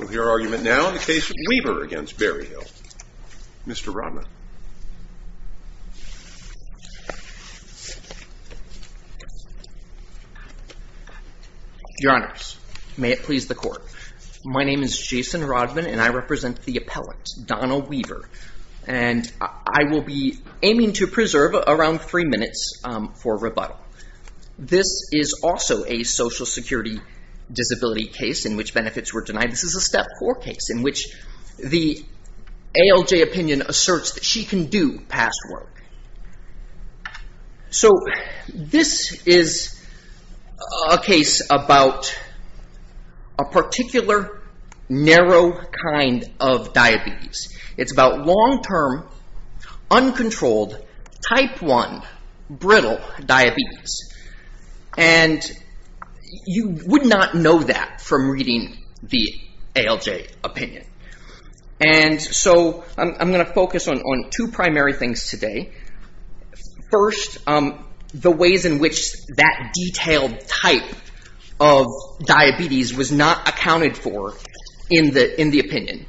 With your argument now, the case of Weaver v. Berryhill. Mr. Rodman. Your Honors, may it please the Court. My name is Jason Rodman and I represent the appellate Donna Weaver and I will be aiming to preserve around three minutes for rebuttal. This is also a social security disability case in which benefits were denied. This is a step four case in which the ALJ opinion asserts that she can do past work. So this is a case about a particular narrow kind of diabetes. It's about long-term, uncontrolled, type one, brittle diabetes. And you would not know that from reading the ALJ opinion. And so I'm going to focus on two primary things today. First, the ways in which that detailed type of diabetes was not accounted for in the opinion.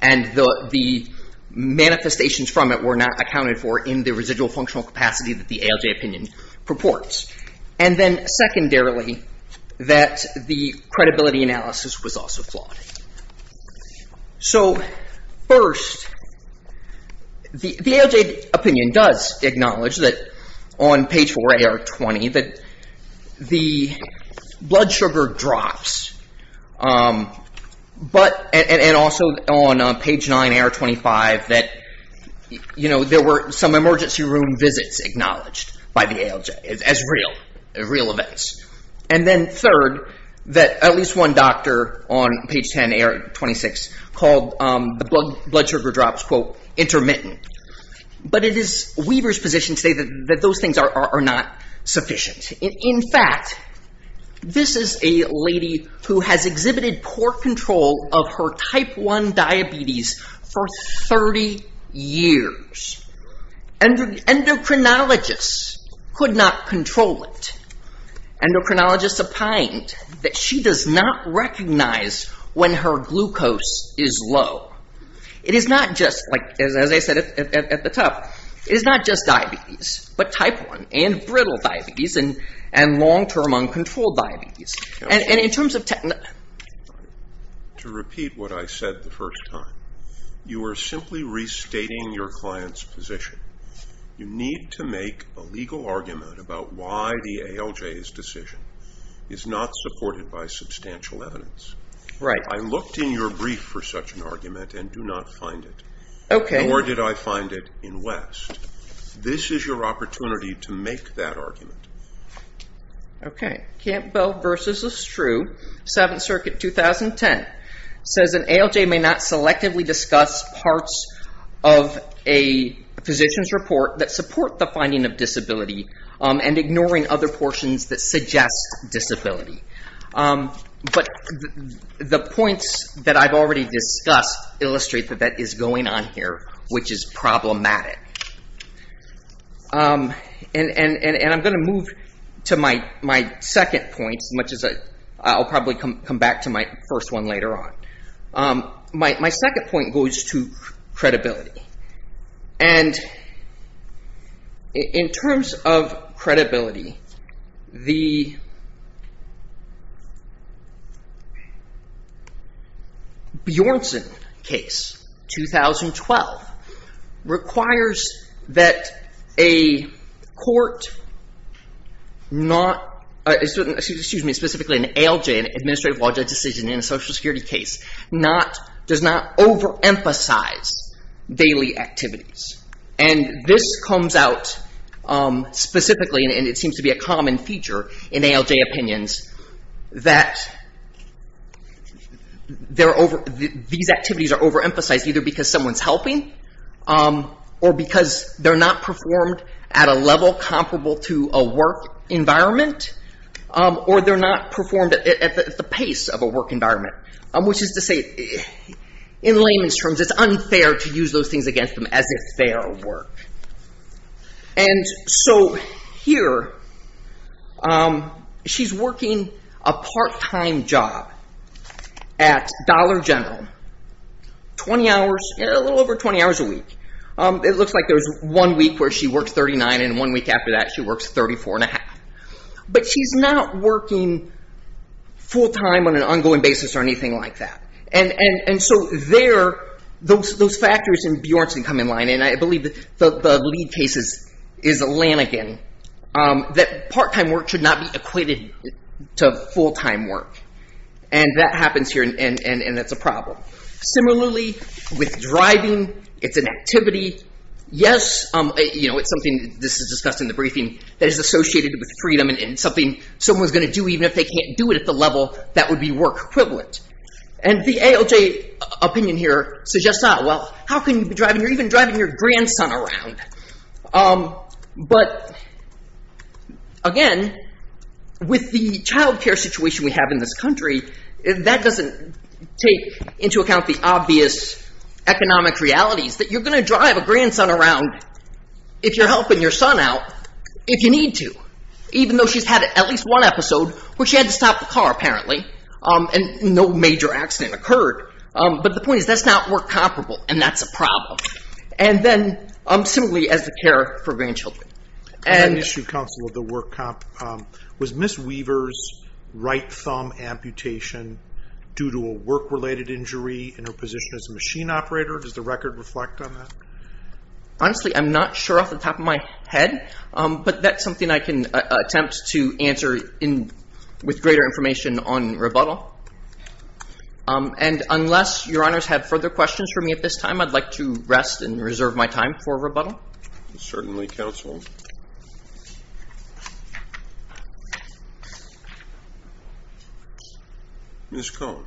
And the manifestations from it were not accounted for in the residual functional capacity that the ALJ opinion purports. And then secondarily, that the credibility analysis was also flawed. So first, the ALJ opinion does acknowledge that on page 4 AR 20 that the blood sugar drops. But, and also on page 9 AR 25 that, you know, there were some emergency room visits acknowledged by the ALJ as real events. And then third, that at least one doctor on page 10 AR 26 called the blood sugar drops, quote, intermittent. But it is Weaver's position to say that those things are not sufficient. In fact, this is a lady who has exhibited poor control of her type 1 diabetes for 30 years. Endocrinologists could not control it. Endocrinologists opined that she does not recognize when her glucose is low. It is not just, like as I said at the top, it is not just diabetes, but type 1 and brittle diabetes and long-term uncontrolled diabetes. And in terms of... To repeat what I said the first time, you are simply restating your client's position. You need to make a legal argument about why the ALJ's decision is not supported by substantial evidence. Right. I looked in your brief for such an argument and do not find it. Okay. Nor did I find it in West. This is your opportunity to make that argument. Okay. Campbell versus Estrue, Seventh Circuit, 2010, says an ALJ may not selectively discuss parts of a physician's report that support the finding of disability and ignoring other portions that suggest disability. But the points that I have already discussed illustrate that that is going on here, which is problematic. And I am going to move to my second point, much as I will probably come back to my first one later on. My second point goes to credibility. And in terms of credibility, the Bjornsson case, 2012, requires that a court not... Excuse me, specifically an ALJ, an administrative logic decision in a social security case, does not overemphasize daily activities. And this comes out specifically, and it seems to be a common feature in ALJ opinions, that these activities are overemphasized either because someone is helping or because they are not performed at a level comparable to a work environment, or they are not performed at the pace of a work environment, which is to say, in layman's terms, it is unfair to use those things against them as if they are work. And so here, she is working a part-time job at Dollar General, 20 hours, a little over 20 hours a week. It looks like there is one week where she works 39, and one week after that she works 34 and a half. But she is not working full-time on an ongoing basis or anything like that. And so there, those factors in Bjornsson come in line, and I believe the lead case is Lanigan, that part-time work should not be equated to full-time work. And that happens here, and it is a problem. Similarly, with driving, it is an activity. Yes, it is something, this is discussed in the briefing, that is associated with freedom and something someone is going to do even if they can't do it at the level that would be work equivalent. And the ALJ opinion here suggests that, well, how can you be driving or even driving your grandson around? But again, with the child care situation we have in this country, that doesn't take into account the obvious economic realities that you are going to drive a grandson around if you are helping your son out if you need to, even though she has had at least one episode where she had to stop the car, apparently, and no major accident occurred. But the point is that is not work comparable, and that is a problem. And then, similarly, as the care for grandchildren. And an issue, counsel, of the work comp, was Ms. Weaver's right thumb amputation due to a work-related injury in her position as a machine operator? Does the record reflect on that? Honestly, I'm not sure off the top of my head, but that's something I can attempt to answer with greater information on rebuttal. And unless your honors have further questions for me at this time, I'd like to rest and reserve my time for rebuttal. Certainly, counsel. Ms. Cohn.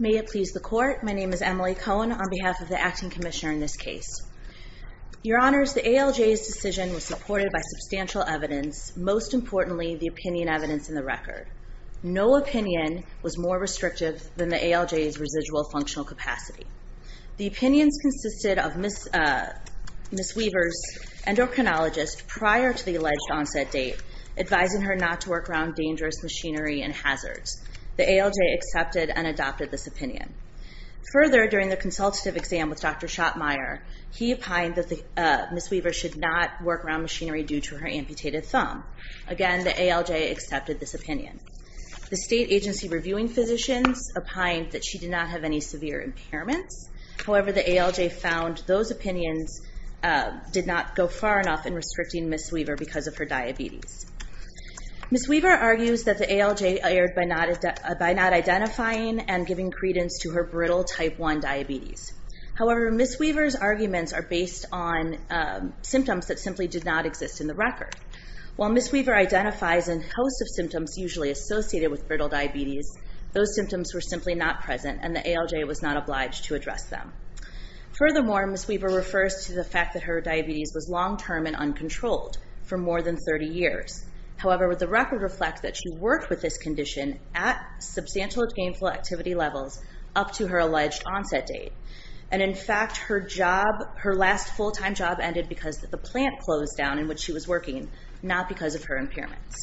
May it please the court. My name is Emily Cohn on behalf of the acting commissioner in this case. Your honors, the ALJ's decision was supported by substantial evidence, most importantly, the opinion evidence in the record. No opinion was more restrictive than the ALJ's residual functional capacity. The opinions consisted of Ms. Weaver's endocrinologist prior to the machinery and hazards. The ALJ accepted and adopted this opinion. Further, during the consultative exam with Dr. Schottmeyer, he opined that Ms. Weaver should not work around machinery due to her amputated thumb. Again, the ALJ accepted this opinion. The state agency reviewing physicians opined that she did not have any severe impairments. However, the ALJ found those opinions did not go far enough in restricting Ms. Weaver because of her diabetes. Ms. Weaver argues that the ALJ erred by not identifying and giving credence to her brittle type 1 diabetes. However, Ms. Weaver's arguments are based on symptoms that simply did not exist in the record. While Ms. Weaver identifies a host of symptoms usually associated with brittle diabetes, those symptoms were simply not present and the ALJ was not obliged to address them. Furthermore, Ms. Weaver refers to the fact that her diabetes was long-term and uncontrolled for more than 30 years. However, the record reflects that she worked with this condition at substantial gainful activity levels up to her alleged onset date. In fact, her last full-time job ended because the plant closed down in which she was working, not because of her impairments.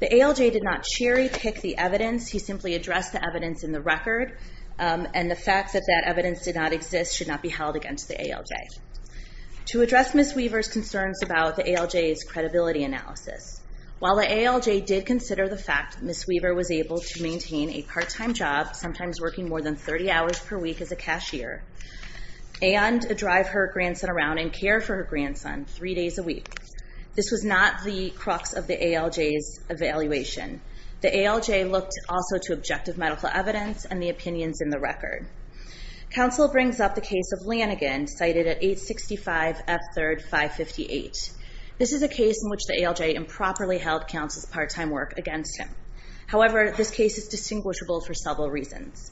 The ALJ did not cherry-pick the evidence. He simply addressed the evidence in the record and the fact that that evidence did not exist should not be held against the ALJ. To address Ms. Weaver's concerns about the ALJ's credibility analysis, while the ALJ did consider the fact that Ms. Weaver was able to maintain a part-time job, sometimes working more than 30 hours per week as a cashier, and drive her grandson around and care for her grandson three days a week, this was not the crux of the ALJ's evaluation. The ALJ looked also to objective medical evidence and the opinions in the record. Council brings up the case of Lanigan, cited at 865 F. 3rd 558. This is a case in which the ALJ improperly held council's part-time work against him. However, this case is distinguishable for several reasons.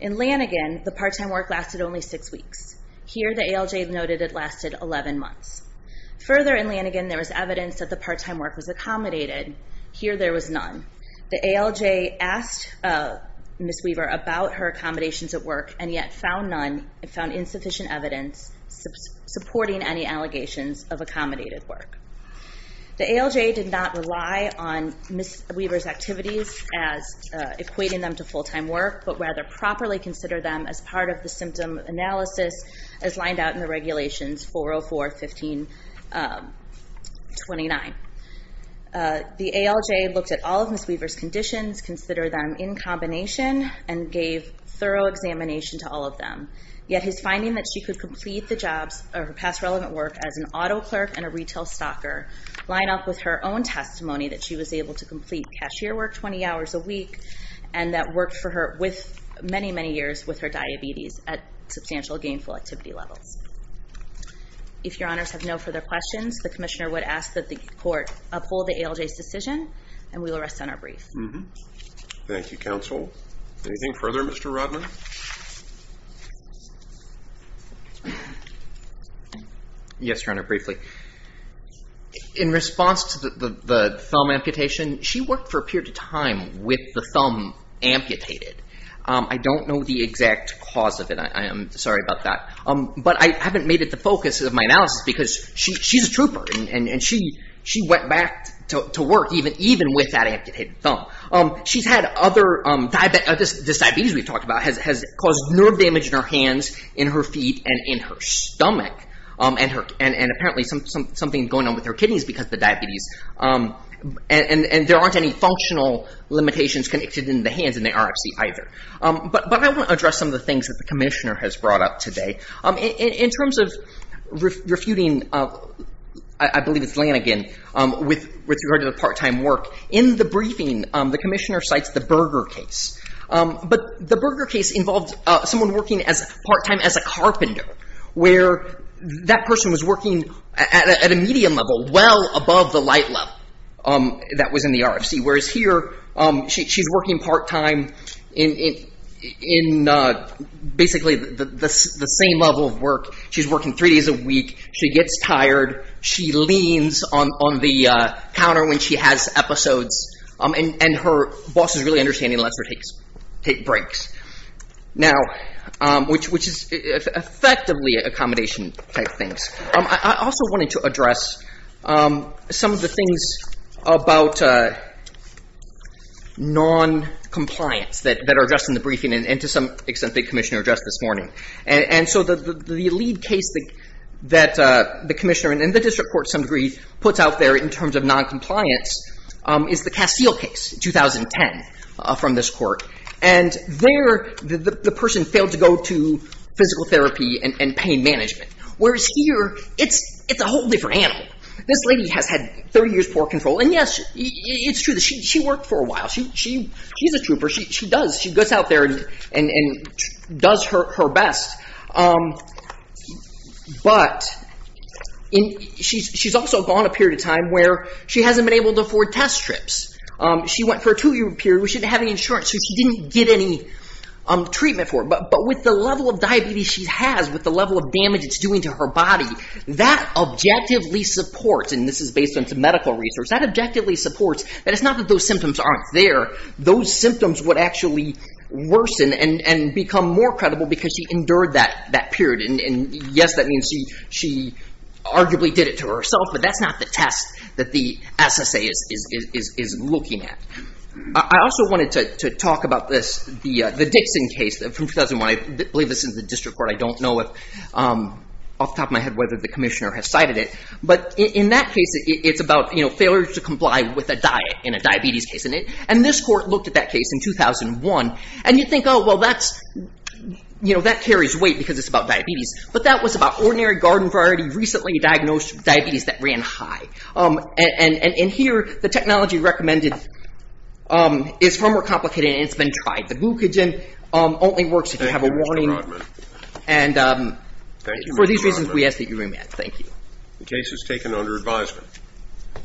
In Lanigan, the part-time work lasted only six weeks. Here, the ALJ noted it lasted 11 months. Further in Lanigan, there was evidence that the part-time work was accommodated. Here, there was none. The ALJ asked Ms. Weaver about her accommodations at work and yet found insufficient evidence supporting any allegations of accommodated work. The ALJ did not rely on Ms. Weaver's activities as equating them to full-time work, but rather properly consider them as part of the symptom analysis as lined out in the regulations 404 1529. The ALJ looked at all of Ms. Weaver's conditions, consider them in combination, and gave thorough examination to all of them. Yet, his finding that she could complete the jobs or her past relevant work as an auto clerk and a retail stocker line up with her own testimony that she was able to complete cashier work 20 hours a week and that worked for her with many, many years with her diabetes at substantial gainful activity levels. If your honors have no further questions, the commissioner would ask that the court uphold the ALJ's decision and we will rest on our brief. Thank you, counsel. Anything further, Mr. Rodman? Yes, your honor, briefly. In response to the thumb amputation, she worked for a period of time with the thumb amputated. I don't know the exact cause of it. I am sorry about that, but I haven't made it the focus of my analysis because she's a trooper and she went back to work even with that thumb amputated. The diabetes we've talked about has caused nerve damage in her hands, in her feet, and in her stomach. Apparently, something is going on with her kidneys because of the diabetes. There aren't any functional limitations connected in the hands in the RFC either. I want to address some of the things that the commissioner has brought up today. In terms of refuting, I believe it's Lanigan, with regard to the part-time work, in the briefing, the commissioner cites the Berger case. But the Berger case involved someone working part-time as a carpenter, where that person was working at a medium level, well above the light level that was in the RFC. Whereas here, she's working part-time in basically the same level of work. She's working three days a week. She gets tired. She leans on the counter when she has episodes, and her boss is really understanding and lets her take breaks, which is effectively accommodation type things. I also wanted to address some of the things about non-compliance that are addressed in the briefing, and to some extent, the commissioner addressed this morning. The lead case that the commissioner, and the district court to some degree, puts out there in terms of non-compliance is the Castile case, 2010, from this court. There, the person failed to go to physical therapy and pain management. Whereas here, it's a whole different animal. This lady has had 30 years poor control, and yes, it's true that she worked for a while. She's a trooper. She goes out there and does her best. But she's also gone a period of time where she hasn't been able to afford test trips. She went for a two-year period where she didn't have any insurance, so she didn't get any treatment for it. But with the level of diabetes she has, with the level of damage it's doing to her body, that objectively supports, and this is based on some medical research, that objectively supports that it's not that those symptoms aren't there. Those symptoms would actually worsen and become more credible because she endured that period. Yes, that means she arguably did it to herself, but that's not the test that the SSA is looking at. I also wanted to talk about this, the Dixon case from 2001. I believe this is the district court. I don't know off the top of my head whether the commissioner has cited it. But in that case, it's about failure to comply with a diet in a diabetes case. And this court looked at that case in 2001. And you think, oh, well, that carries weight because it's about diabetes. But that was about ordinary garden variety recently diagnosed with diabetes that ran high. And here, the technology recommended is far more complicated, and it's been tried. The glucagon only works if you have a warning. And for these reasons, we ask that you remand. Thank you. The case is taken under advisement.